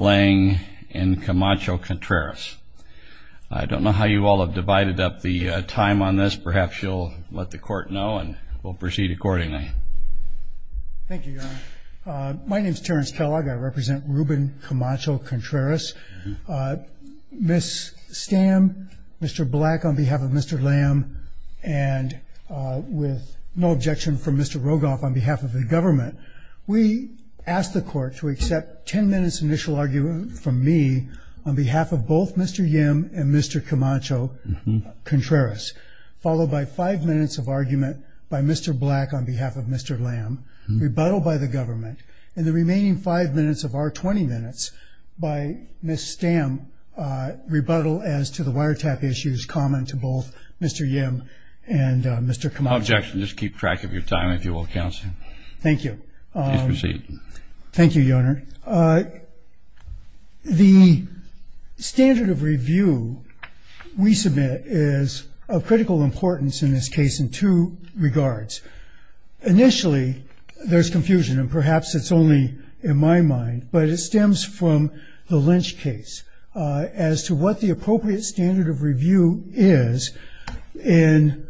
Lang and Camacho Contreras. I don't know how you all have divided up the time on this, perhaps you'll let the court know and we'll proceed accordingly. Thank you, Your Honor. My name is Terrence Kellogg. I represent Ruben Camacho Contreras. Ms. Stamm, Mr. Black on behalf of Mr. Lamb, and with no objection from Mr. Rogoff on behalf of the government, we ask the court to accept 10 minutes initial argument from me on behalf of both Mr. Yim and Mr. Camacho Contreras, followed by 5 minutes of argument by Mr. Black on behalf of Mr. Lamb, rebuttal by the government, and the remaining 5 minutes of our 20 minutes by Ms. Stamm, rebuttal as to the wiretap issues common to both Mr. Yim and Mr. Camacho. Objection. Just keep track of your time if you will, counsel. Thank you. Please proceed. Thank you, Your Honor. The standard of review we submit is of critical importance in this case in two regards. Initially, there's confusion, and perhaps it's only in my mind, but it stems from the Lynch case as to what the appropriate standard of review is in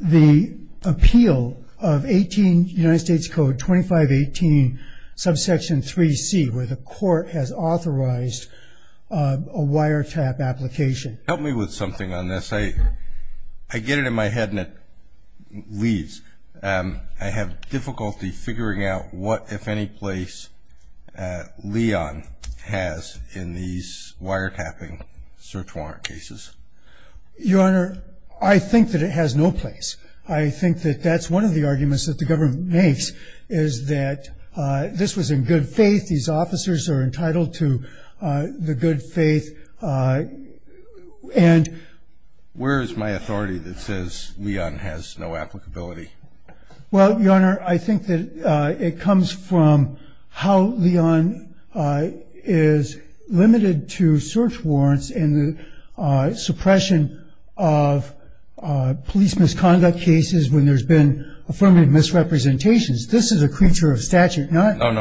the appeal of 18 United States Code 2518, subsection 3C, where the court has authorized a wiretap application. Help me with something on this. I get it in my head and it leaves. I have difficulty figuring out what, if any place, Leon has in these wiretapping search warrant cases. Your Honor, I think that it has no place. I think that that's one of the arguments that the government makes is that this was in good faith, these officers are entitled to the good faith, and Where is my authority that says Leon has no applicability? Well, Your Honor, I think that it comes from how Leon is limited to search warrants and the suppression of police misconduct cases when there's been affirmative misrepresentations. This is a creature of statute, not There's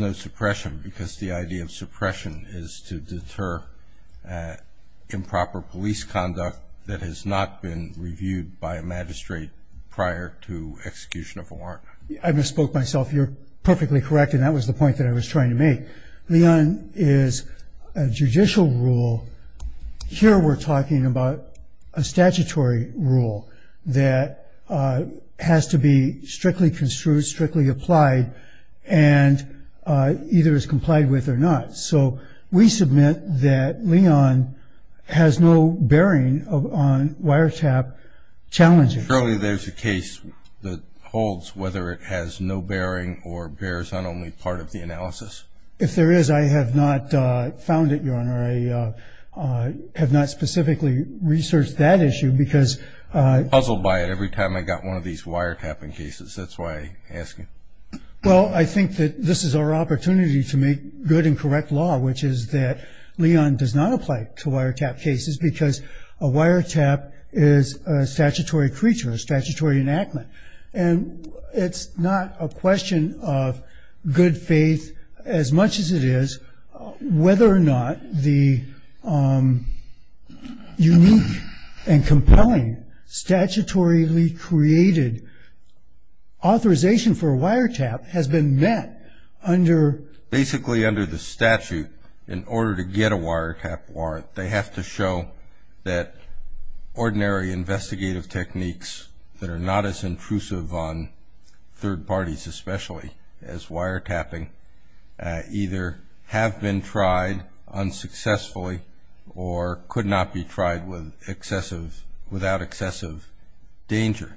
no suppression because the idea of suppression is to deter improper police conduct that has not been reviewed by a magistrate prior to execution of a warrant. I misspoke myself. You're perfectly correct, and that was the point that I was trying to make. Leon is a judicial rule. Here we're talking about a statutory rule that has to be strictly construed, strictly applied, and either is complied with or not. So we submit that Leon has no bearing on wiretap challenges. Surely there's a case that holds whether it has no bearing or bears on only part of the analysis. If there is, I have not found it, Your Honor. I have not specifically researched that issue because I'm puzzled by it every time I got one of these wiretapping cases. That's why I ask you. Well, I think that this is our opportunity to make good and correct law, which is that Leon does not apply to wiretap cases because a wiretap is a statutory creature, a statutory enactment. And it's not a question of good faith as much as it is whether or not the unique and compelling statutorily created authorization for a wiretap has been met under. Basically, under the statute, in order to get a wiretap warrant, they have to show that ordinary investigative techniques that are not as intrusive on third parties especially as wiretapping either have been tried unsuccessfully or could not be tried without excessive danger.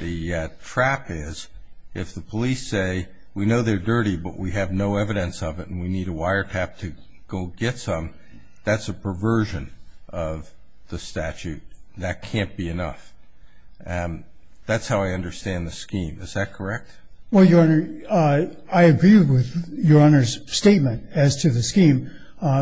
The trap is if the police say, we know they're dirty but we have no evidence of it and we need a wiretap to go get some, that's a perversion of the statute. That can't be enough. That's how I understand the scheme. Is that correct? Well, Your Honor, I agree with Your Honor's statement as to the scheme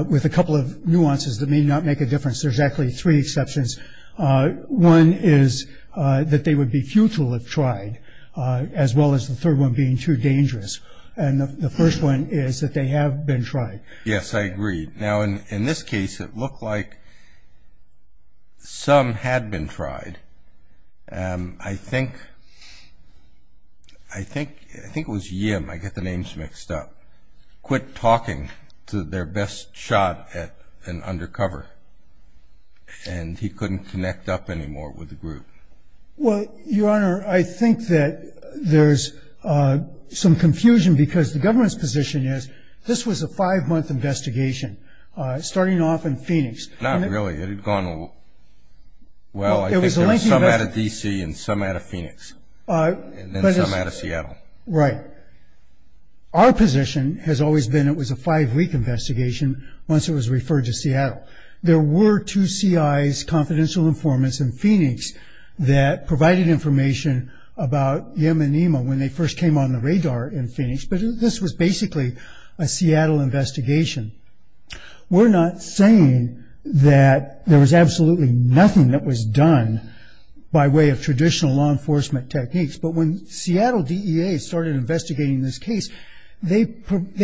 with a couple of nuances that may not make a difference. There's actually three exceptions. One is that they would be futile if tried as well as the third one being too dangerous. And the first one is that they have been tried. Yes, I agree. Now, in this case, it looked like some had been tried. I think it was Yim, I get the names mixed up, quit talking to their best shot at an undercover and he couldn't connect up anymore with the group. Well, Your Honor, I think that there's some confusion because the government's position is this was a five-month investigation starting off in Phoenix. Not really. It had gone, well, I think there was some out of D.C. and some out of Phoenix and then some out of Seattle. Right. Our position has always been it was a five-week investigation once it was referred to Seattle. There were two C.I.'s, confidential informants, in Phoenix that provided information about Yim and Nima when they first came on the radar in Phoenix, but this was basically a Seattle investigation. We're not saying that there was absolutely nothing that was done by way of traditional law enforcement techniques, but when Seattle DEA started investigating this case, they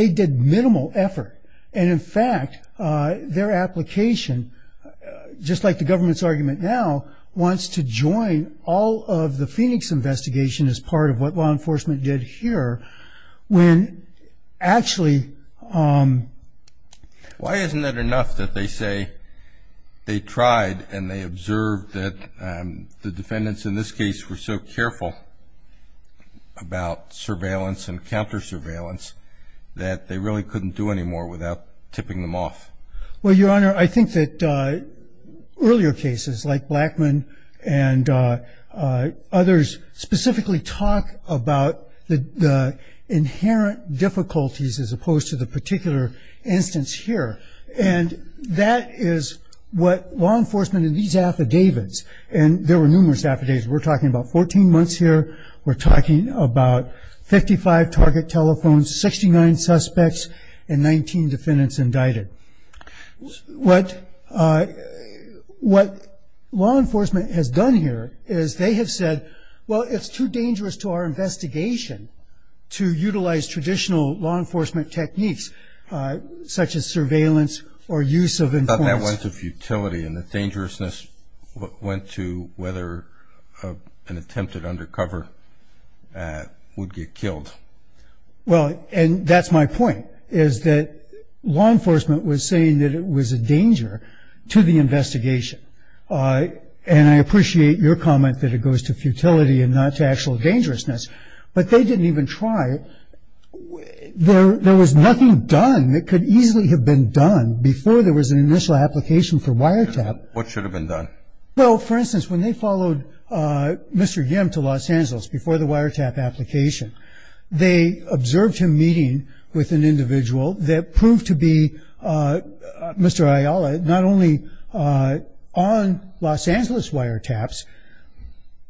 did minimal effort. And, in fact, their application, just like the government's argument now, wants to join all of the Phoenix investigation as part of what law enforcement did here when actually... Why isn't it enough that they say they tried and they observed that the defendants in this case were so careful about surveillance and counter-surveillance that they really couldn't do anymore without tipping them off? Well, Your Honor, I think that earlier cases like Blackman and others specifically talk about the inherent difficulties as opposed to the particular instance here, and that is what law enforcement in these affidavits, and there were numerous affidavits, we're talking about 14 months here, we're talking about 55 target telephones, 69 suspects, and 19 defendants indicted. What law enforcement has done here is they have said, well, it's too dangerous to our investigation to utilize traditional law enforcement techniques such as surveillance or use of... I thought that went to futility and the dangerousness went to whether an attempted undercover would get killed. Well, and that's my point, is that law enforcement was saying that it was a danger to the investigation. And I appreciate your comment that it goes to futility and not to actual dangerousness, but they didn't even try. There was nothing done that could easily have been done before there was an initial application for wiretap. What should have been done? Well, for instance, when they followed Mr. Yim to Los Angeles before the wiretap application, they observed him meeting with an individual that proved to be Mr. Ayala not only on Los Angeles wiretaps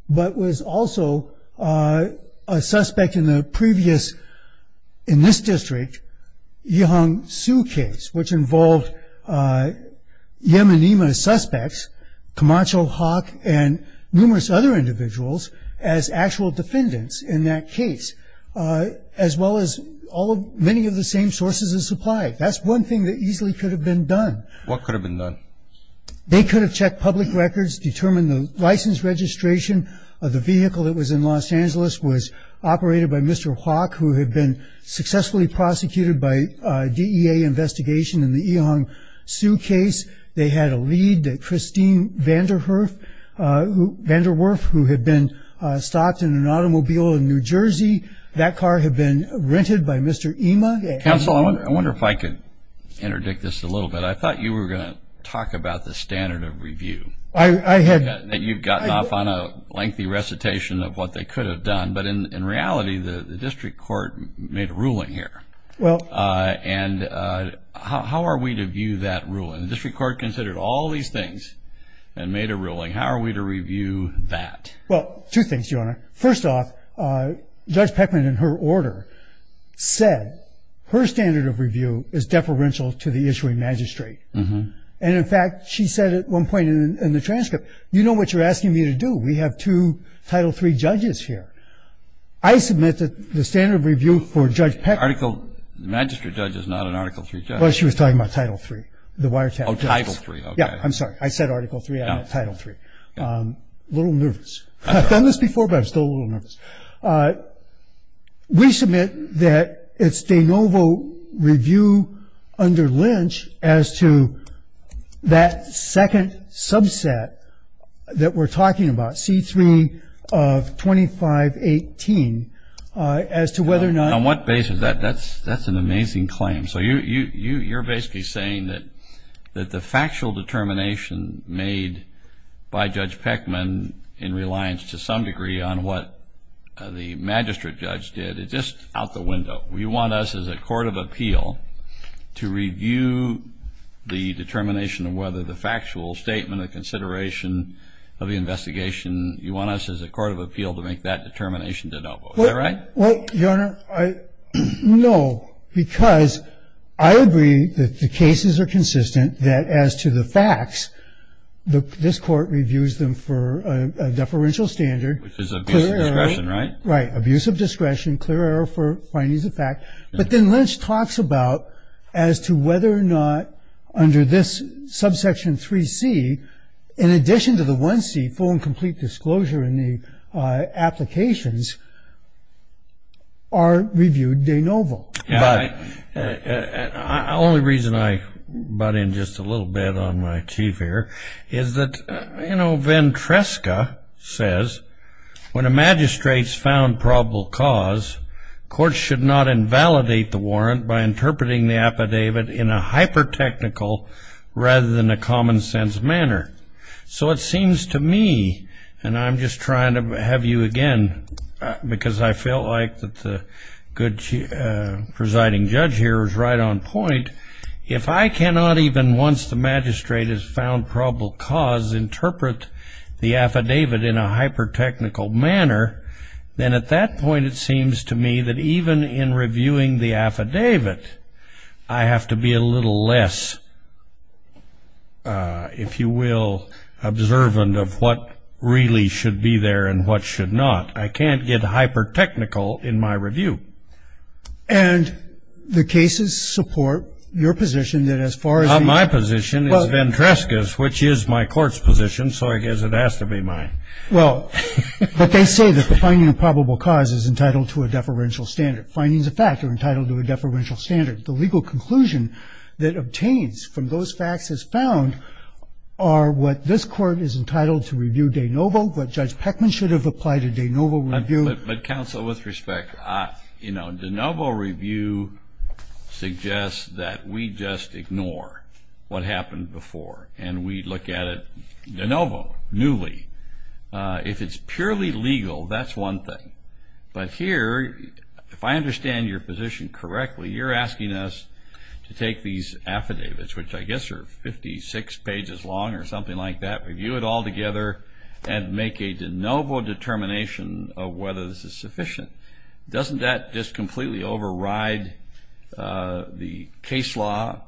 but was also a suspect in the previous, in this district, Yihong Su case, which involved Yemenima suspects, Camacho, Hawk, and numerous other individuals as actual defendants in that case, as well as many of the same sources of supply. That's one thing that easily could have been done. What could have been done? They could have checked public records, determined the license registration of the vehicle that was in Los Angeles was operated by Mr. Hawk, who had been successfully prosecuted by DEA investigation in the Yihong Su case. They had a lead, Christine Vanderwerf, who had been stopped in an automobile in New Jersey. That car had been rented by Mr. Yima. Counsel, I wonder if I could interdict this a little bit. I thought you were going to talk about the standard of review. I had. You've gotten off on a lengthy recitation of what they could have done, but in reality the district court made a ruling here. Well. And how are we to view that ruling? The district court considered all these things and made a ruling. How are we to review that? Well, two things, Your Honor. First off, Judge Peckman, in her order, said her standard of review is deferential to the issuing magistrate. And, in fact, she said at one point in the transcript, you know what you're asking me to do. We have two Title III judges here. I submit that the standard of review for Judge Peckman. The magistrate judge is not an Article III judge. Well, she was talking about Title III, the wiretap judge. Oh, Title III, okay. Yeah, I'm sorry. I said Article III. I meant Title III. A little nervous. I've done this before, but I'm still a little nervous. We submit that it's de novo review under Lynch as to that second subset that we're talking about, C-3 of 2518, as to whether or not. On what basis? That's an amazing claim. So you're basically saying that the factual determination made by Judge Peckman, in reliance to some degree on what the magistrate judge did, it's just out the window. You want us as a court of appeal to review the determination of whether the factual statement or consideration of the investigation, you want us as a court of appeal to make that determination de novo. Is that right? Well, Your Honor, no, because I agree that the cases are consistent, that as to the facts, this court reviews them for a deferential standard. Which is abuse of discretion, right? Right, abuse of discretion, clear error for findings of fact. But then Lynch talks about as to whether or not under this subsection 3C, in addition to the 1C, full and complete disclosure in the applications, are reviewed de novo. The only reason I butt in just a little bit on my teeth here is that Ventresca says, when a magistrate's found probable cause, courts should not invalidate the warrant by interpreting the affidavit in a hyper-technical rather than a common sense manner. So it seems to me, and I'm just trying to have you again, because I feel like that the good presiding judge here is right on point, if I cannot even, once the magistrate has found probable cause, interpret the affidavit in a hyper-technical manner, then at that point it seems to me that even in reviewing the affidavit, I have to be a little less, if you will, observant of what really should be there and what should not. I can't get hyper-technical in my review. And the cases support your position that as far as the... Not my position, it's Ventresca's, which is my court's position, so I guess it has to be mine. Well, but they say that the finding of probable cause is entitled to a deferential standard. Findings of fact are entitled to a deferential standard. The legal conclusion that obtains from those facts as found are what this court is entitled to review de novo, what Judge Peckman should have applied to de novo review. But, counsel, with respect, you know, de novo review suggests that we just ignore what happened before, and we look at it de novo, newly. If it's purely legal, that's one thing. But here, if I understand your position correctly, you're asking us to take these affidavits, which I guess are 56 pages long or something like that, review it all together, and make a de novo determination of whether this is sufficient. Doesn't that just completely override the case law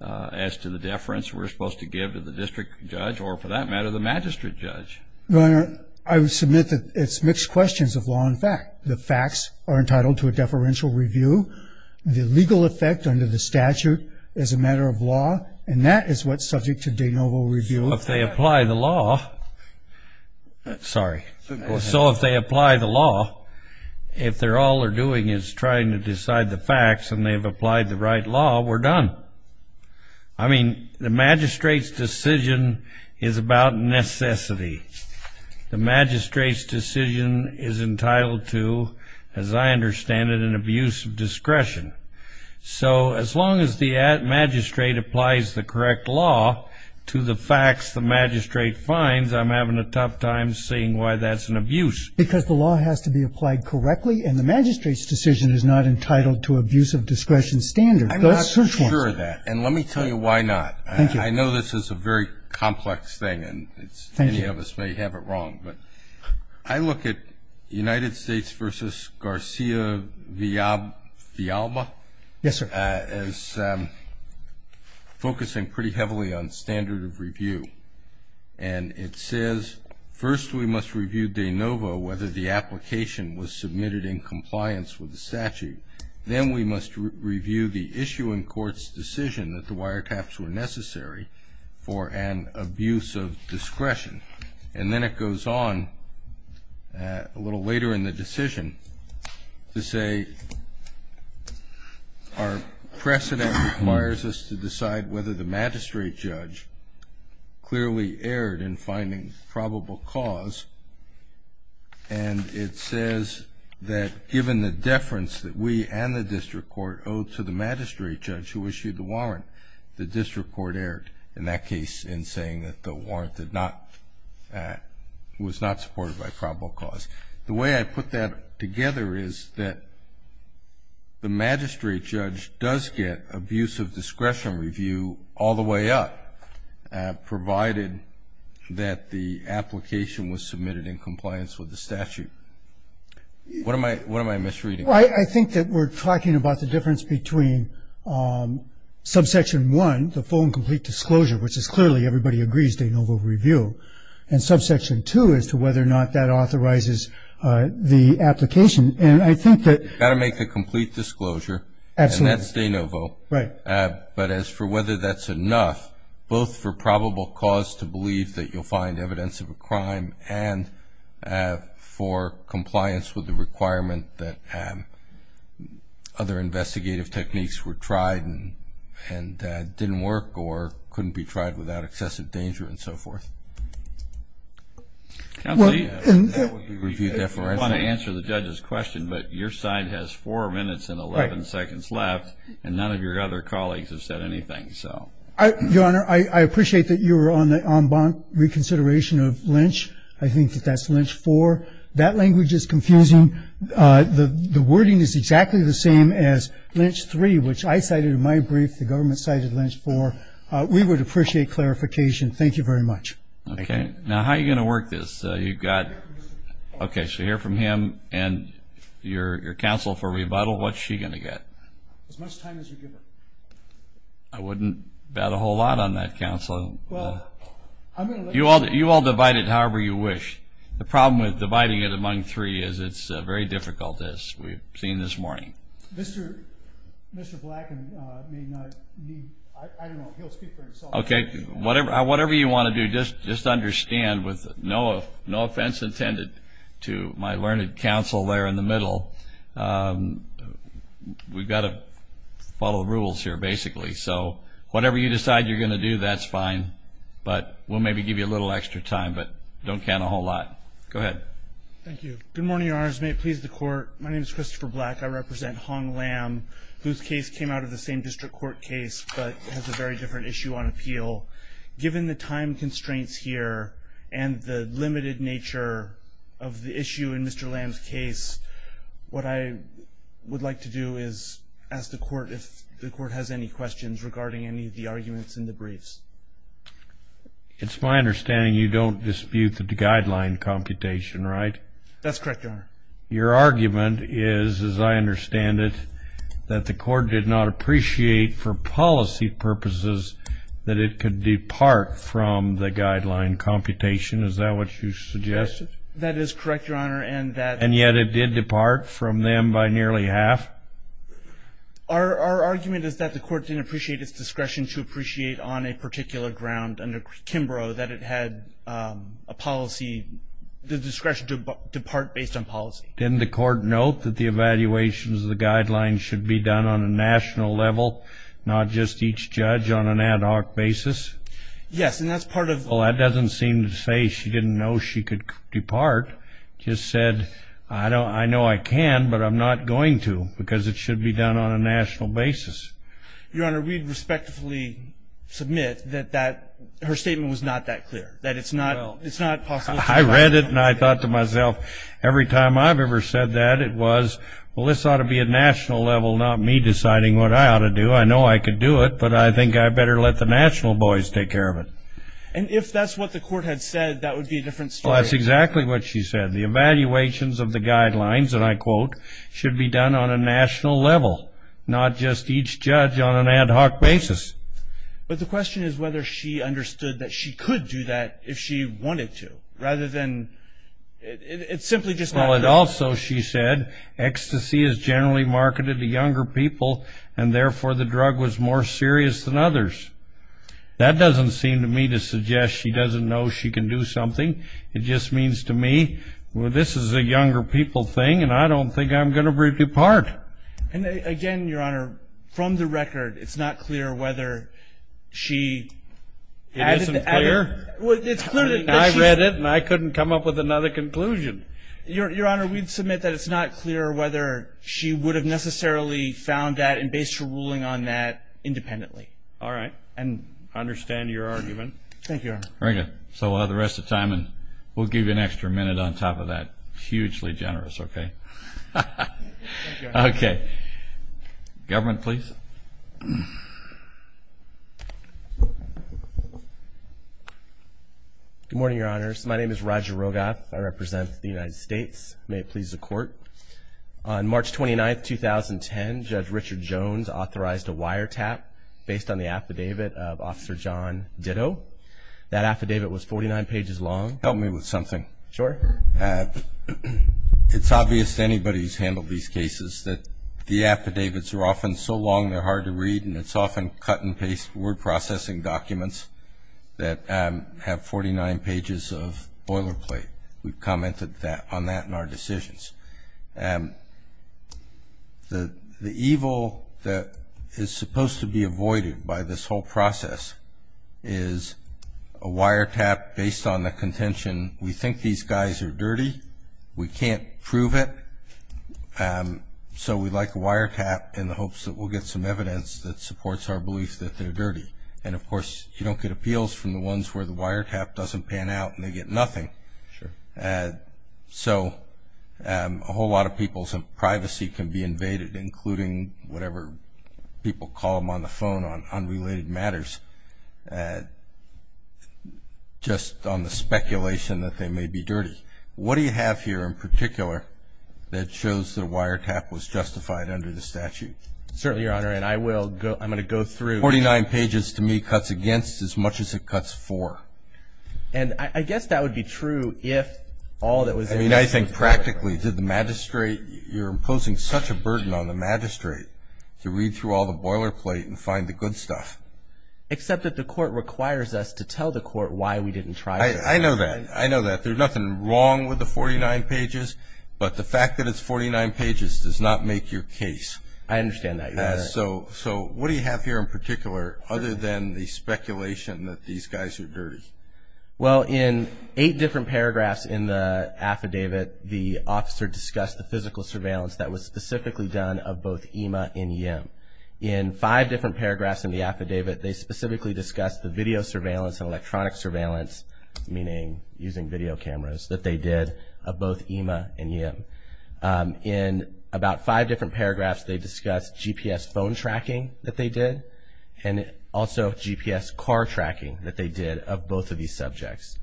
as to the deference we're supposed to give to the district judge or, for that matter, the magistrate judge? Your Honor, I would submit that it's mixed questions of law and fact. The facts are entitled to a deferential review. The legal effect under the statute is a matter of law, and that is what's subject to de novo review. So if they apply the law, sorry. So if they apply the law, if all they're doing is trying to decide the facts and they've applied the right law, we're done. I mean, the magistrate's decision is about necessity. The magistrate's decision is entitled to, as I understand it, an abuse of discretion. So as long as the magistrate applies the correct law to the facts the magistrate finds, I'm having a tough time seeing why that's an abuse. Because the law has to be applied correctly, and the magistrate's decision is not entitled to abuse of discretion standards. Those search warrants. I'm not sure of that, and let me tell you why not. Thank you. I know this is a very complex thing, and any of us may have it wrong, but I look at United States v. Garcia-Villalba. Yes, sir. As focusing pretty heavily on standard of review, and it says, first we must review de novo whether the application was submitted in compliance with the statute. Then we must review the issue in court's decision that the wiretaps were necessary for an abuse of discretion. And then it goes on a little later in the decision to say, our precedent requires us to decide whether the magistrate judge clearly erred in finding probable cause, and it says that given the deference that we and the district court owe to the magistrate judge who issued the warrant, the district court erred in that case in saying that the warrant did not, was not supported by probable cause. The way I put that together is that the magistrate judge does get abuse of discretion review all the way up, provided that the application was submitted in compliance with the statute. What am I misreading? I think that we're talking about the difference between subsection one, the full and complete disclosure, which is clearly everybody agrees de novo review, and subsection two as to whether or not that authorizes the application. And I think that you've got to make a complete disclosure. Absolutely. And that's de novo. Right. But as for whether that's enough, both for probable cause to believe that you'll find evidence of a crime, and for compliance with the requirement that other investigative techniques were tried and didn't work or couldn't be tried without excessive danger and so forth. Well, I want to answer the judge's question, but your side has four minutes and 11 seconds left, and none of your other colleagues have said anything. Your Honor, I appreciate that you were on the en banc reconsideration of Lynch. I think that that's Lynch four. That language is confusing. The wording is exactly the same as Lynch three, which I cited in my brief. The government cited Lynch four. We would appreciate clarification. Thank you very much. Okay. Now, how are you going to work this? Okay, so hear from him and your counsel for rebuttal. What's she going to get? As much time as you give her. I wouldn't bet a whole lot on that, counsel. You all divide it however you wish. The problem with dividing it among three is it's very difficult, as we've seen this morning. Mr. Black, I don't know, he'll speak for himself. Okay, whatever you want to do, just understand with no offense intended to my learned counsel there in the middle, we've got to follow the rules here, basically. So whatever you decide you're going to do, that's fine. But we'll maybe give you a little extra time, but don't count a whole lot. Go ahead. Thank you. Good morning, Your Honors. May it please the Court, my name is Christopher Black. I represent Hong Lam, whose case came out of the same district court case but has a very different issue on appeal. Given the time constraints here and the limited nature of the issue in Mr. Lam's case, what I would like to do is ask the Court if the Court has any questions regarding any of the arguments in the briefs. It's my understanding you don't dispute the guideline computation, right? That's correct, Your Honor. Your argument is, as I understand it, that the Court did not appreciate for policy purposes that it could depart from the guideline computation. Is that what you suggested? That is correct, Your Honor. And yet it did depart from them by nearly half? Our argument is that the Court didn't appreciate its discretion to appreciate on a particular ground under Kimbrough that it had a policy, the discretion to depart based on policy. Didn't the Court note that the evaluations of the guidelines should be done on a national level, not just each judge on an ad hoc basis? Yes, and that's part of the ---- Well, that doesn't seem to say she didn't know she could depart. She just said, I know I can, but I'm not going to because it should be done on a national basis. Your Honor, we'd respectfully submit that her statement was not that clear, that it's not possible to ---- I read it, and I thought to myself, every time I've ever said that, it was, well, this ought to be a national level, not me deciding what I ought to do. I know I could do it, but I think I better let the national boys take care of it. And if that's what the Court had said, that would be a different story. Well, that's exactly what she said. The evaluations of the guidelines, and I quote, should be done on a national level, not just each judge on an ad hoc basis. But the question is whether she understood that she could do that if she wanted to, rather than ---- Well, it also, she said, ecstasy is generally marketed to younger people, and therefore the drug was more serious than others. That doesn't seem to me to suggest she doesn't know she can do something. It just means to me, well, this is a younger people thing, and I don't think I'm going to break it apart. And again, Your Honor, from the record, it's not clear whether she ---- It isn't clear? Well, it's clear that she ---- I read it, and I couldn't come up with another conclusion. Your Honor, we submit that it's not clear whether she would have necessarily found that, and based her ruling on that, independently. All right. And I understand your argument. Thank you, Your Honor. Very good. So the rest of the time, we'll give you an extra minute on top of that. Hugely generous, okay? Thank you, Your Honor. Okay. Government, please. Good morning, Your Honors. My name is Roger Rogoff. I represent the United States. May it please the Court. On March 29, 2010, Judge Richard Jones authorized a wiretap based on the affidavit of Officer John Ditto. That affidavit was 49 pages long. Help me with something. Sure. It's obvious to anybody who's handled these cases that the affidavits are often so long they're hard to read, and it's often cut-and-paste word processing documents that have 49 pages of boilerplate. We've commented on that in our decisions. The evil that is supposed to be avoided by this whole process is a wiretap based on the contention, we think these guys are dirty, we can't prove it, so we'd like a wiretap in the hopes that we'll get some evidence that supports our belief that they're dirty. And, of course, you don't get appeals from the ones where the wiretap doesn't pan out and they get nothing. Sure. So a whole lot of people's privacy can be invaded, including whatever people call them on the phone on unrelated matters, just on the speculation that they may be dirty. What do you have here in particular that shows the wiretap was justified under the statute? Certainly, Your Honor, and I'm going to go through. Forty-nine pages to me cuts against as much as it cuts for. And I guess that would be true if all that was in there was a wiretap. I mean, I think practically to the magistrate, you're imposing such a burden on the magistrate to read through all the boilerplate and find the good stuff. Except that the court requires us to tell the court why we didn't try to. I know that. I know that. There's nothing wrong with the 49 pages, but the fact that it's 49 pages does not make your case. I understand that, Your Honor. So what do you have here in particular other than the speculation that these guys are dirty? Well, in eight different paragraphs in the affidavit, the officer discussed the physical surveillance that was specifically done of both EMA and EM. In five different paragraphs in the affidavit, they specifically discussed the video surveillance and electronic surveillance, meaning using video cameras, that they did of both EMA and EM. In about five different paragraphs, they discussed GPS phone tracking that they did and also GPS car tracking that they did of both of these subjects.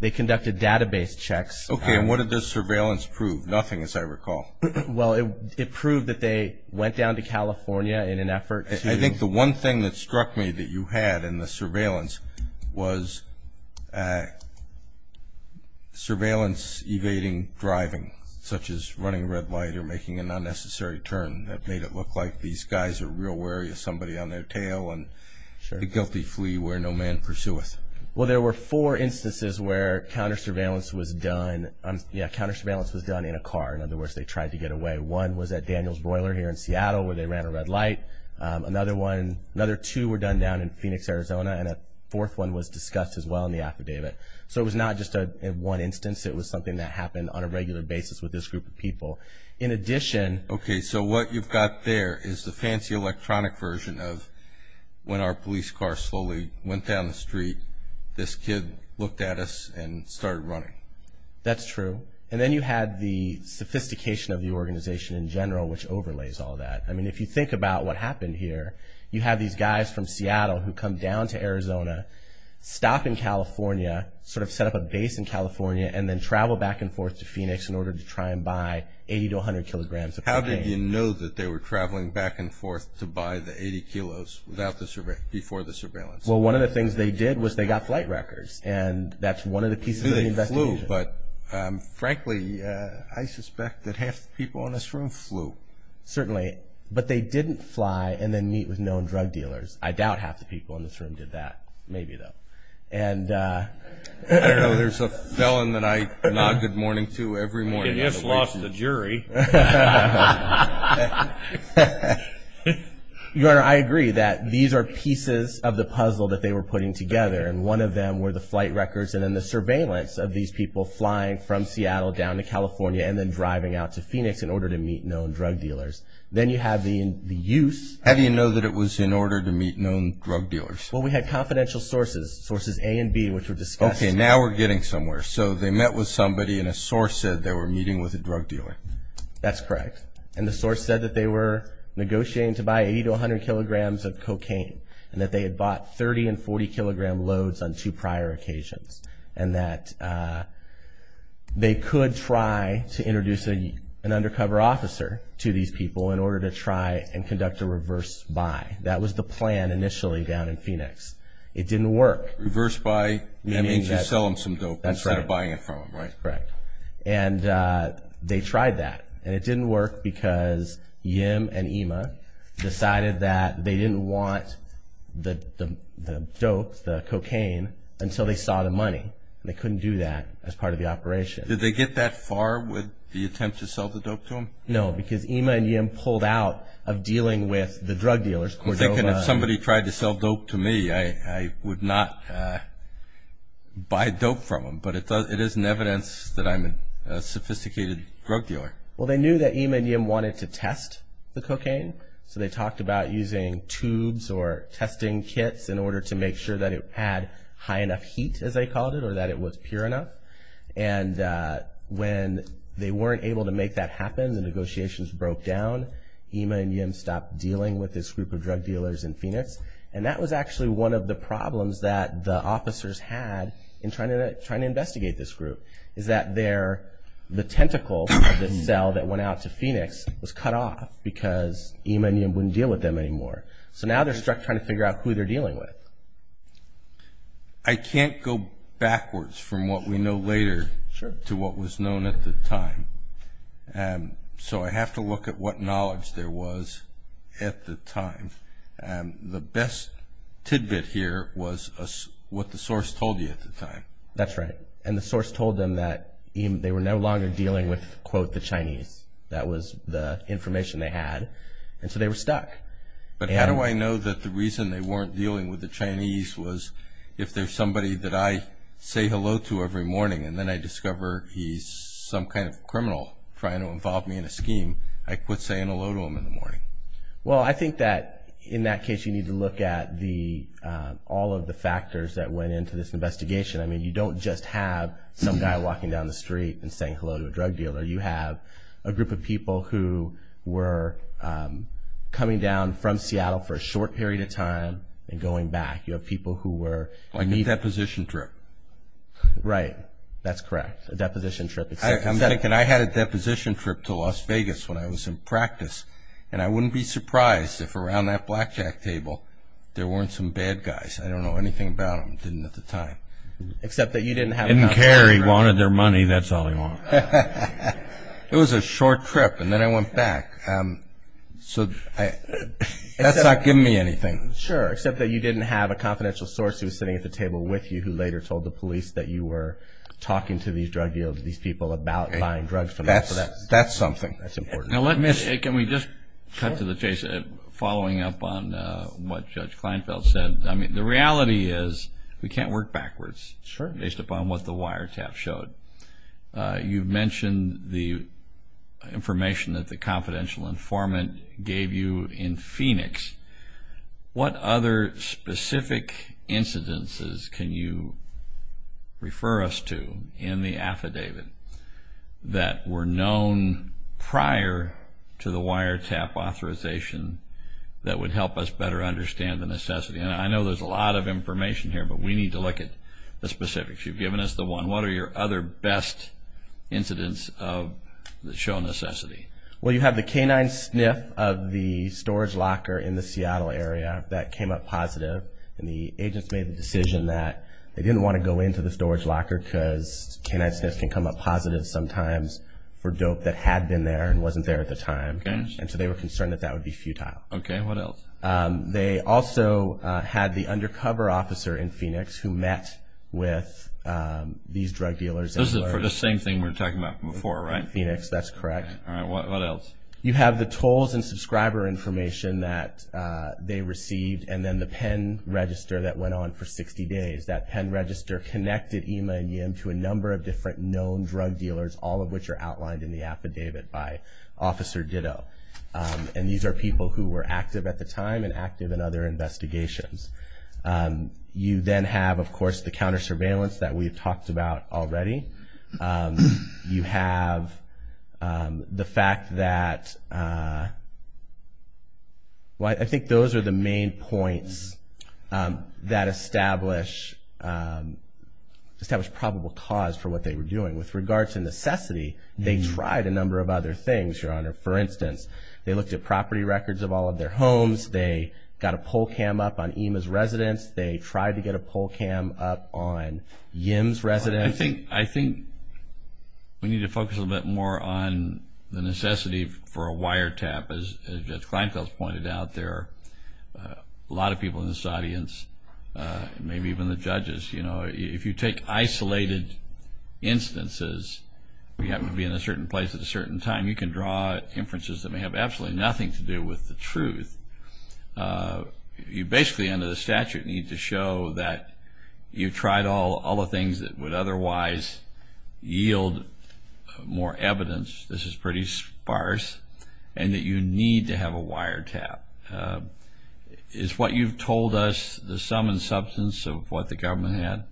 They conducted database checks. Okay. And what did the surveillance prove? Nothing, as I recall. Well, it proved that they went down to California in an effort to – I think the one thing that struck me that you had in the surveillance was surveillance evading driving, such as running a red light or making an unnecessary turn. That made it look like these guys are real wary of somebody on their tail and the guilty flee where no man pursueth. Well, there were four instances where counter-surveillance was done – yeah, counter-surveillance was done in a car. In other words, they tried to get away. One was at Daniels Broiler here in Seattle where they ran a red light. Another one – another two were done down in Phoenix, Arizona, and a fourth one was discussed as well in the affidavit. So it was not just one instance. It was something that happened on a regular basis with this group of people. In addition – Okay, so what you've got there is the fancy electronic version of when our police car slowly went down the street, this kid looked at us and started running. That's true. And then you had the sophistication of the organization in general, which overlays all that. I mean, if you think about what happened here, you have these guys from Seattle who come down to Arizona, stop in California, sort of set up a base in California, and then travel back and forth to Phoenix in order to try and buy 80 to 100 kilograms of cocaine. How did you know that they were traveling back and forth to buy the 80 kilos before the surveillance? Well, one of the things they did was they got flight records, and that's one of the pieces of the investigation. They flew, but frankly, I suspect that half the people in this room flew. Certainly. But they didn't fly and then meet with known drug dealers. I doubt half the people in this room did that. Maybe, though. And – I don't know. There's a felon that I nod good morning to every morning. He just lost the jury. You Honor, I agree that these are pieces of the puzzle that they were putting together, and one of them were the flight records and then the surveillance of these people flying from Seattle down to California and then driving out to Phoenix in order to meet known drug dealers. Then you have the use. How do you know that it was in order to meet known drug dealers? Well, we had confidential sources, sources A and B, which were discussed. Okay. Now we're getting somewhere. So they met with somebody, and a source said they were meeting with a drug dealer. That's correct. And the source said that they were negotiating to buy 80 to 100 kilograms of cocaine and that they had bought 30 and 40-kilogram loads on two prior occasions and that they could try to introduce an undercover officer to these people in order to try and conduct a reverse buy. That was the plan initially down in Phoenix. It didn't work. Reverse buy? That means you sell them some dope and try to buy it from them, right? That's right. Correct. And they tried that, and it didn't work because Yim and Ima decided that they didn't want the dope, the cocaine, until they saw the money, and they couldn't do that as part of the operation. Did they get that far with the attempt to sell the dope to them? No, because Ima and Yim pulled out of dealing with the drug dealers, Cordova. I'm thinking if somebody tried to sell dope to me, I would not buy dope from them, but it is in evidence that I'm a sophisticated drug dealer. Well, they knew that Ima and Yim wanted to test the cocaine, so they talked about using tubes or testing kits in order to make sure that it had high enough heat, as they called it, or that it was pure enough. And when they weren't able to make that happen, the negotiations broke down. Ima and Yim stopped dealing with this group of drug dealers in Phoenix, and that was actually one of the problems that the officers had in trying to investigate this group, is that the tentacle of the cell that went out to Phoenix was cut off because Ima and Yim wouldn't deal with them anymore. So now they're stuck trying to figure out who they're dealing with. I can't go backwards from what we know later to what was known at the time, so I have to look at what knowledge there was at the time. The best tidbit here was what the source told you at the time. That's right, and the source told them that they were no longer dealing with, quote, the Chinese. That was the information they had, and so they were stuck. But how do I know that the reason they weren't dealing with the Chinese was if there's somebody that I say hello to every morning and then I discover he's some kind of criminal trying to involve me in a scheme, I quit saying hello to him in the morning? Well, I think that in that case you need to look at all of the factors that went into this investigation. I mean, you don't just have some guy walking down the street and saying hello to a drug dealer. You have a group of people who were coming down from Seattle for a short period of time and going back. You have people who were meeting. Like a deposition trip. Right, that's correct, a deposition trip. I had a deposition trip to Las Vegas when I was in practice, and I wouldn't be surprised if around that blackjack table there weren't some bad guys. I don't know anything about them. Didn't at the time. Except that you didn't have a confidential source. Didn't care. He wanted their money. That's all he wanted. It was a short trip, and then I went back. So that's not giving me anything. Sure, except that you didn't have a confidential source who was sitting at the table with you who later told the police that you were talking to these drug dealers, these people about buying drugs from them. That's something. That's important. Can we just cut to the chase following up on what Judge Kleinfeld said? The reality is we can't work backwards based upon what the wiretaps showed. You mentioned the information that the confidential informant gave you in Phoenix. What other specific incidences can you refer us to in the affidavit that were known prior to the wiretap authorization that would help us better understand the necessity? I know there's a lot of information here, but we need to look at the specifics. You've given us the one. What are your other best incidents that show necessity? Well, you have the canine sniff of the storage locker in the Seattle area. That came up positive, and the agents made the decision that they didn't want to go into the storage locker because canine sniffs can come up positive sometimes for dope that had been there and wasn't there at the time, and so they were concerned that that would be futile. Okay, what else? They also had the undercover officer in Phoenix who met with these drug dealers. This is for the same thing we were talking about before, right? In Phoenix, that's correct. All right, what else? You have the tolls and subscriber information that they received and then the pen register that went on for 60 days. That pen register connected EMA and YIM to a number of different known drug dealers, all of which are outlined in the affidavit by Officer Ditto, and these are people who were active at the time and active in other investigations. You then have, of course, the counter surveillance that we've talked about already. You have the fact that, well, I think those are the main points that establish probable cause for what they were doing. With regard to necessity, they tried a number of other things, Your Honor. For instance, they looked at property records of all of their homes. They got a poll cam up on EMA's residence. They tried to get a poll cam up on YIM's residence. I think we need to focus a little bit more on the necessity for a wiretap, as Judge Kleinfeld pointed out. There are a lot of people in this audience, maybe even the judges. You know, if you take isolated instances, you happen to be in a certain place at a certain time, you can draw inferences that may have absolutely nothing to do with the truth. You basically, under the statute, need to show that you've tried all the things that would otherwise yield more evidence. This is pretty sparse, and that you need to have a wiretap. Is what you've told us the sum and substance of what the government had?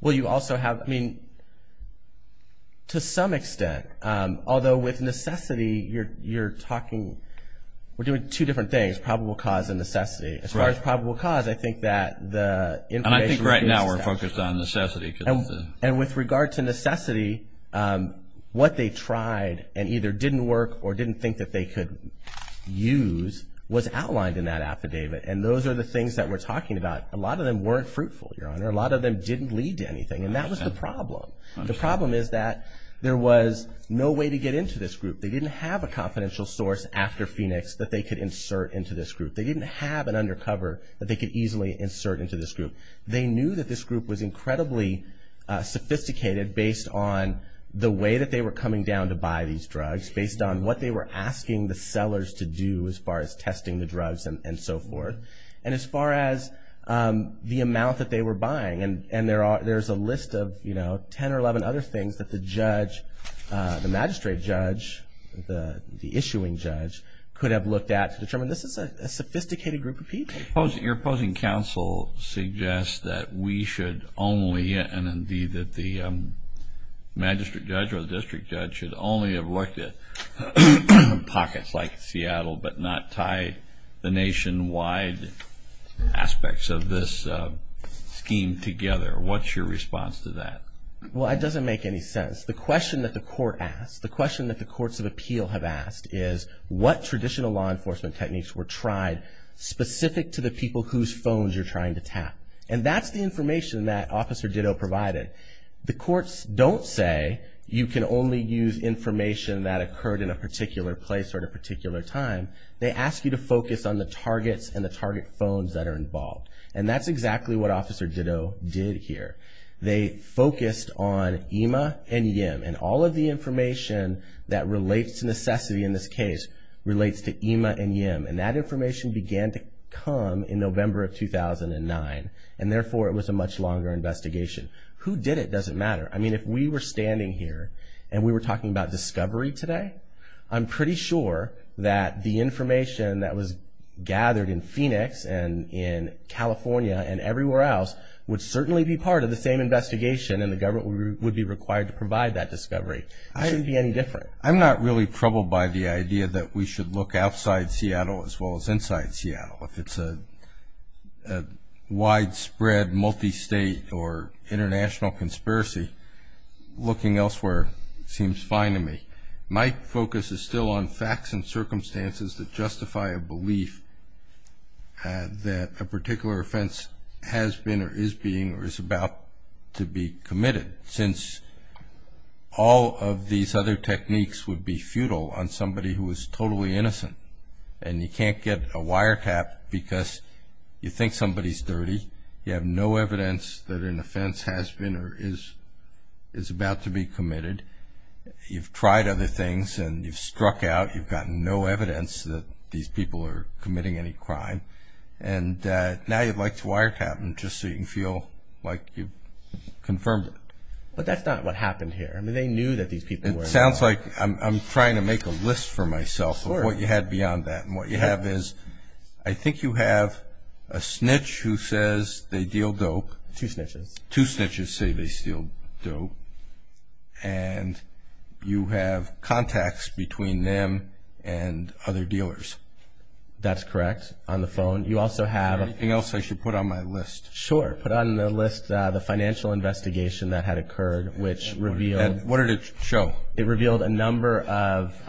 Well, you also have, I mean, to some extent, although with necessity, you're talking, we're doing two different things, probable cause and necessity. As far as probable cause, I think that the information is pretty sparse. And I think right now we're focused on necessity. And with regard to necessity, what they tried and either didn't work or didn't think that they could use was outlined in that affidavit, and those are the things that we're talking about. A lot of them weren't fruitful, Your Honor. A lot of them didn't lead to anything, and that was the problem. The problem is that there was no way to get into this group. They didn't have a confidential source after Phoenix that they could insert into this group. They didn't have an undercover that they could easily insert into this group. They knew that this group was incredibly sophisticated based on the way that they were coming down to buy these drugs, based on what they were asking the sellers to do as far as testing the drugs and so forth. And as far as the amount that they were buying, and there's a list of, you know, 10 or 11 other things that the judge, the magistrate judge, the issuing judge, could have looked at to determine this is a sophisticated group of people. Your opposing counsel suggests that we should only, and indeed that the magistrate judge or the district judge should only have looked at pockets like Seattle but not tie the nationwide aspects of this scheme together. What's your response to that? Well, it doesn't make any sense. The question that the court asked, the question that the courts of appeal have asked is what traditional law enforcement techniques were tried specific to the people whose phones you're trying to tap. And that's the information that Officer Ditto provided. The courts don't say you can only use information that occurred in a particular place or at a particular time. They ask you to focus on the targets and the target phones that are involved. And that's exactly what Officer Ditto did here. They focused on EMA and YIM and all of the information that relates to necessity in this case relates to EMA and YIM. And that information began to come in November of 2009, and therefore it was a much longer investigation. Who did it doesn't matter. I mean, if we were standing here and we were talking about discovery today, I'm pretty sure that the information that was gathered in Phoenix and in California and everywhere else would certainly be part of the same investigation and the government would be required to provide that discovery. It shouldn't be any different. I'm not really troubled by the idea that we should look outside Seattle as well as inside Seattle. If it's a widespread multi-state or international conspiracy, looking elsewhere seems fine to me. My focus is still on facts and circumstances that justify a belief that a particular offense has been or is being or is about to be committed, since all of these other techniques would be futile on somebody who is totally innocent. And you can't get a wiretap because you think somebody's dirty. You have no evidence that an offense has been or is about to be committed. You've tried other things and you've struck out. You've gotten no evidence that these people are committing any crime. And now you'd like to wiretap them just so you can feel like you've confirmed it. But that's not what happened here. I mean, they knew that these people were involved. It sounds like I'm trying to make a list for myself of what you had beyond that. And what you have is I think you have a snitch who says they deal dope. Two snitches. Two snitches say they steal dope. And you have contacts between them and other dealers. That's correct. On the phone. You also have. Anything else I should put on my list? Sure. Put on the list the financial investigation that had occurred, which revealed. And what did it show? It revealed a number of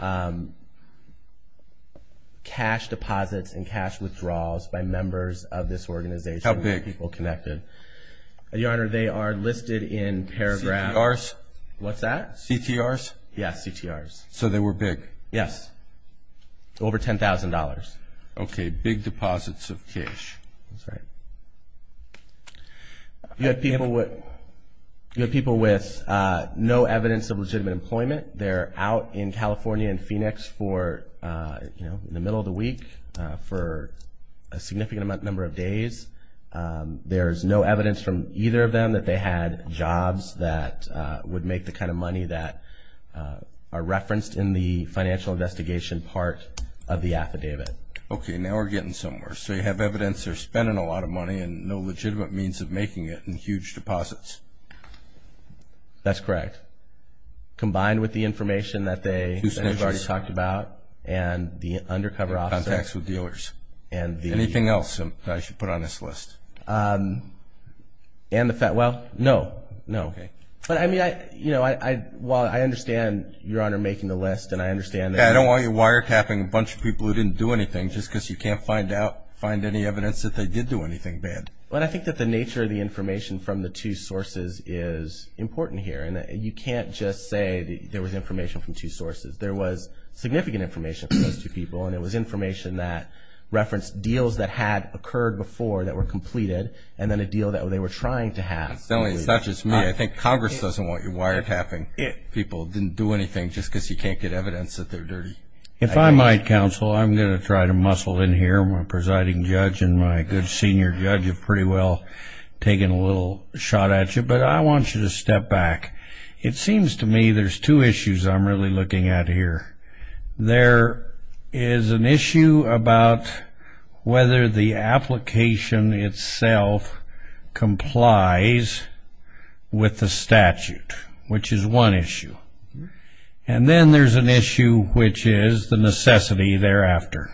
cash deposits and cash withdrawals by members of this organization. How big? People connected. Your Honor, they are listed in paragraphs. CTRs? What's that? CTRs? Yes, CTRs. So they were big? Yes, over $10,000. Okay, big deposits of cash. That's right. You have people with no evidence of legitimate employment. They're out in California and Phoenix for, you know, in the middle of the week for a significant number of days. There's no evidence from either of them that they had jobs that would make the kind of money that are referenced in the financial investigation part of the affidavit. Okay, now we're getting somewhere. So you have evidence they're spending a lot of money and no legitimate means of making it in huge deposits. That's correct. Combined with the information that they've already talked about and the undercover officer. And contacts with dealers. And the. Anything else I should put on this list? And the, well, no, no. Okay. But, I mean, I, you know, while I understand, Your Honor, making the list and I understand. I don't want you wiretapping a bunch of people who didn't do anything just because you can't find out, find any evidence that they did do anything bad. But I think that the nature of the information from the two sources is important here. And you can't just say there was information from two sources. There was significant information from those two people, and it was information that referenced deals that had occurred before that were completed and then a deal that they were trying to have. It's not just me. I think Congress doesn't want you wiretapping people who didn't do anything just because you can't get evidence that they're dirty. If I might, Counsel, I'm going to try to muscle in here. My presiding judge and my good senior judge have pretty well taken a little shot at you. But I want you to step back. It seems to me there's two issues I'm really looking at here. There is an issue about whether the application itself complies with the statute, which is one issue. And then there's an issue which is the necessity thereafter.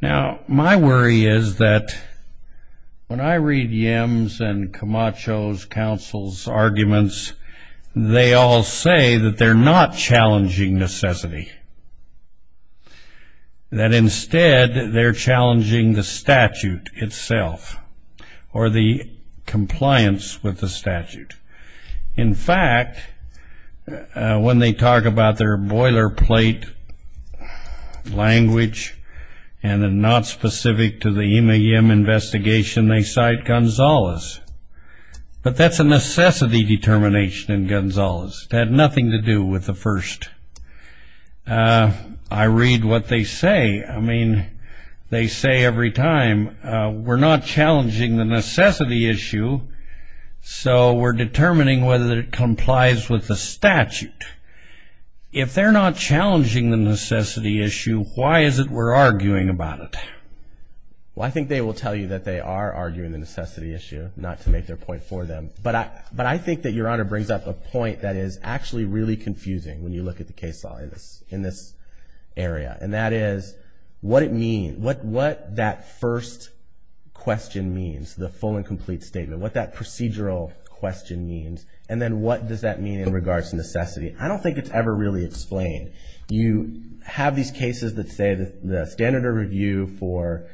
Now, my worry is that when I read Yim's and Camacho's counsel's arguments, they all say that they're not challenging necessity, that instead they're challenging the statute itself or the compliance with the statute. In fact, when they talk about their boilerplate language and are not specific to the Ima Yim investigation, they cite Gonzales. But that's a necessity determination in Gonzales. It had nothing to do with the first. I read what they say. I mean, they say every time, we're not challenging the necessity issue, so we're determining whether it complies with the statute. If they're not challenging the necessity issue, why is it we're arguing about it? Well, I think they will tell you that they are arguing the necessity issue, not to make their point for them. But I think that Your Honor brings up a point that is actually really confusing when you look at the case law in this area. And that is what it means, what that first question means, the full and complete statement, what that procedural question means, and then what does that mean in regards to necessity. I don't think it's ever really explained. You have these cases that say the standard of review for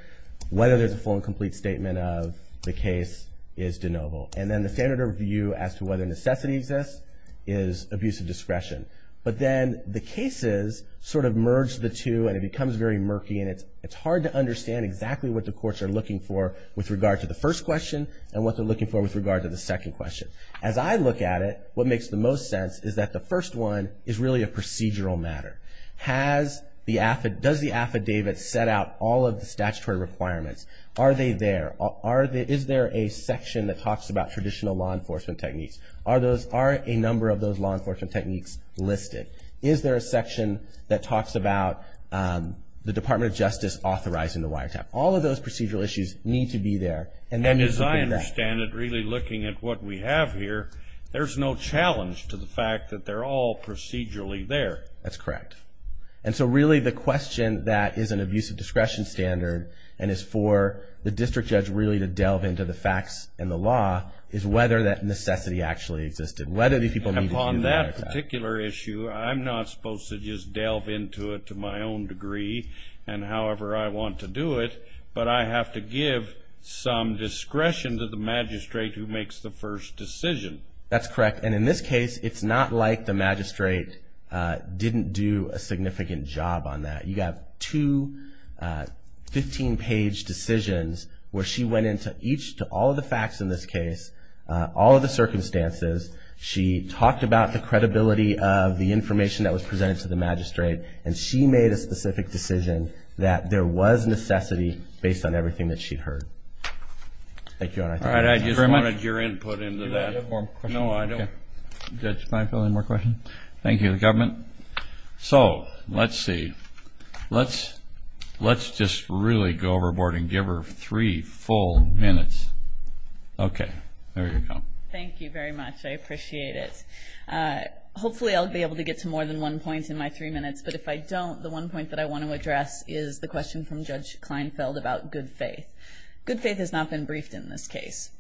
whether there's a full and complete statement of the case is de novo. And then the standard of review as to whether necessity exists is abuse of discretion. But then the cases sort of merge the two, and it becomes very murky, and it's hard to understand exactly what the courts are looking for with regard to the first question and what they're looking for with regard to the second question. As I look at it, what makes the most sense is that the first one is really a procedural matter. Does the affidavit set out all of the statutory requirements? Are they there? Is there a section that talks about traditional law enforcement techniques? Are a number of those law enforcement techniques listed? Is there a section that talks about the Department of Justice authorizing the wiretap? All of those procedural issues need to be there. And as I understand it, really looking at what we have here, there's no challenge to the fact that they're all procedurally there. That's correct. And so really the question that is an abuse of discretion standard and is for the district judge really to delve into the facts and the law is whether that necessity actually existed, whether these people needed to do the wiretap. And upon that particular issue, I'm not supposed to just delve into it to my own degree and however I want to do it, but I have to give some discretion to the magistrate who makes the first decision. That's correct. And in this case, it's not like the magistrate didn't do a significant job on that. You have two 15-page decisions where she went into each to all of the facts in this case, all of the circumstances. She talked about the credibility of the information that was presented to the magistrate, and she made a specific decision that there was necessity based on everything that she'd heard. Thank you. All right. I just wanted your input into that. No, I don't. Judge Kleinfeld, any more questions? Thank you, the government. So let's see. Let's just really go overboard and give her three full minutes. Okay. There you go. Thank you very much. I appreciate it. Hopefully I'll be able to get to more than one point in my three minutes, but if I don't, the one point that I want to address is the question from Judge Kleinfeld about good faith. Good faith has not been briefed in this case.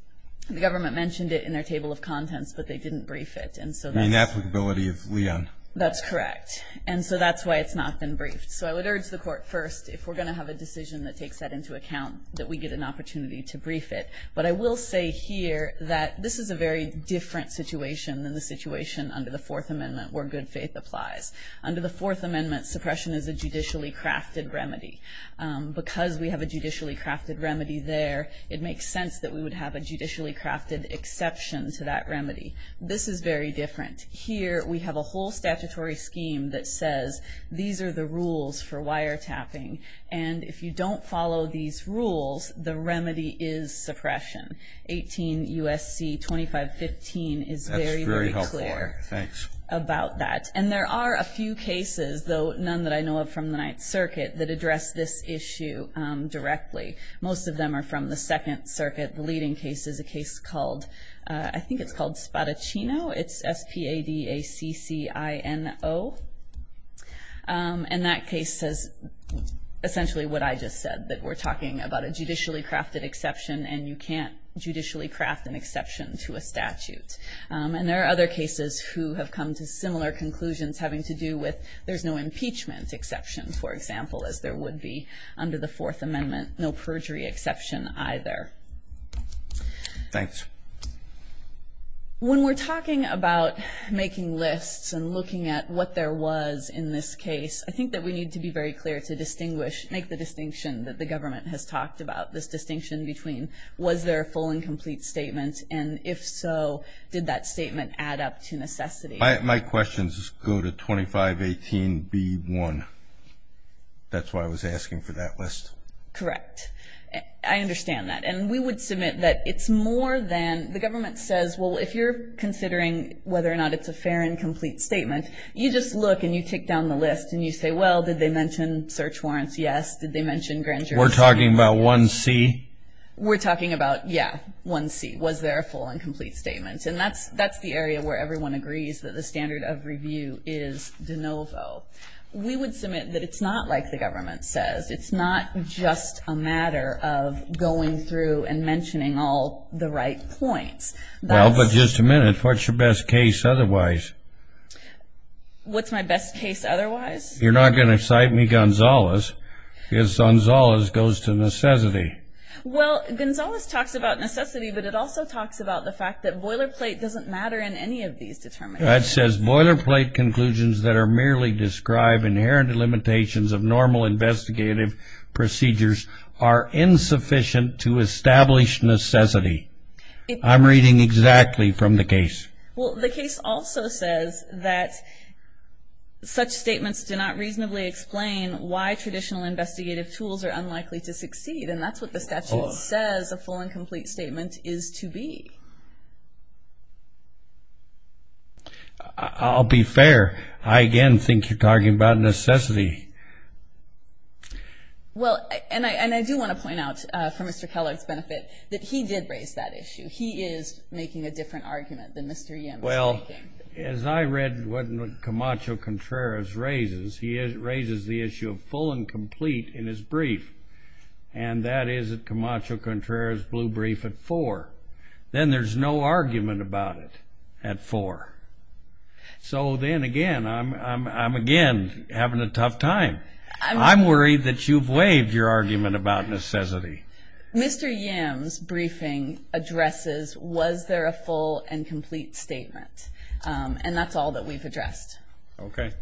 The government mentioned it in their table of contents, but they didn't brief it. You mean applicability of Leon. That's correct. And so that's why it's not been briefed. So I would urge the Court first, if we're going to have a decision that takes that into account, that we get an opportunity to brief it. But I will say here that this is a very different situation than the situation under the Fourth Amendment where good faith applies. Under the Fourth Amendment, suppression is a judicially crafted remedy. Because we have a judicially crafted remedy there, it makes sense that we would have a judicially crafted exception to that remedy. This is very different. Here we have a whole statutory scheme that says these are the rules for wiretapping, and if you don't follow these rules, the remedy is suppression. 18 U.S.C. 2515 is very, very clear about that. That's very helpful. Thanks. And there are a few cases, though none that I know of from the Ninth Circuit, that address this issue directly. Most of them are from the Second Circuit. The leading case is a case called, I think it's called Spadaccino. It's S-P-A-D-A-C-C-I-N-O. And that case says essentially what I just said, that we're talking about a judicially crafted exception, and you can't judicially craft an exception to a statute. And there are other cases who have come to similar conclusions having to do with there's no impeachment exception, for example, as there would be under the Fourth Amendment, no perjury exception either. Thanks. When we're talking about making lists and looking at what there was in this case, I think that we need to be very clear to distinguish, make the distinction that the government has talked about, this distinction between was there a full and complete statement, and if so, did that statement add up to necessity? My questions go to 2518B1. That's why I was asking for that list. Correct. I understand that. And we would submit that it's more than the government says, well, if you're considering whether or not it's a fair and complete statement, you just look and you take down the list and you say, well, did they mention search warrants? Yes. Did they mention grand jurisdiction? We're talking about 1C? We're talking about, yeah, 1C. Was there a full and complete statement? And that's the area where everyone agrees that the standard of review is de novo. We would submit that it's not like the government says. It's not just a matter of going through and mentioning all the right points. Well, but just a minute, what's your best case otherwise? What's my best case otherwise? You're not going to cite me, Gonzales, because Gonzales goes to necessity. Well, Gonzales talks about necessity, but it also talks about the fact that boilerplate doesn't matter in any of these determinations. That says boilerplate conclusions that are merely describe inherent limitations of normal investigative procedures are insufficient to establish necessity. I'm reading exactly from the case. Well, the case also says that such statements do not reasonably explain why traditional investigative tools are unlikely to succeed, and that's what the statute says a full and complete statement is to be. I'll be fair. I, again, think you're talking about necessity. Well, and I do want to point out, for Mr. Keller's benefit, that he did raise that issue. He is making a different argument than Mr. Yim is making. Well, as I read what Camacho-Contreras raises, he raises the issue of full and complete in his brief, and that is that Camacho-Contreras blew brief at four. Then there's no argument about it at four. So then, again, I'm, again, having a tough time. I'm worried that you've waived your argument about necessity. Mr. Yim's briefing addresses, was there a full and complete statement? And that's all that we've addressed. Okay.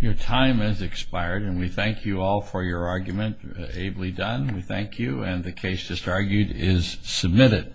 Your time has expired, and we thank you all for your argument, ably done. We thank you, and the case just argued is submitted.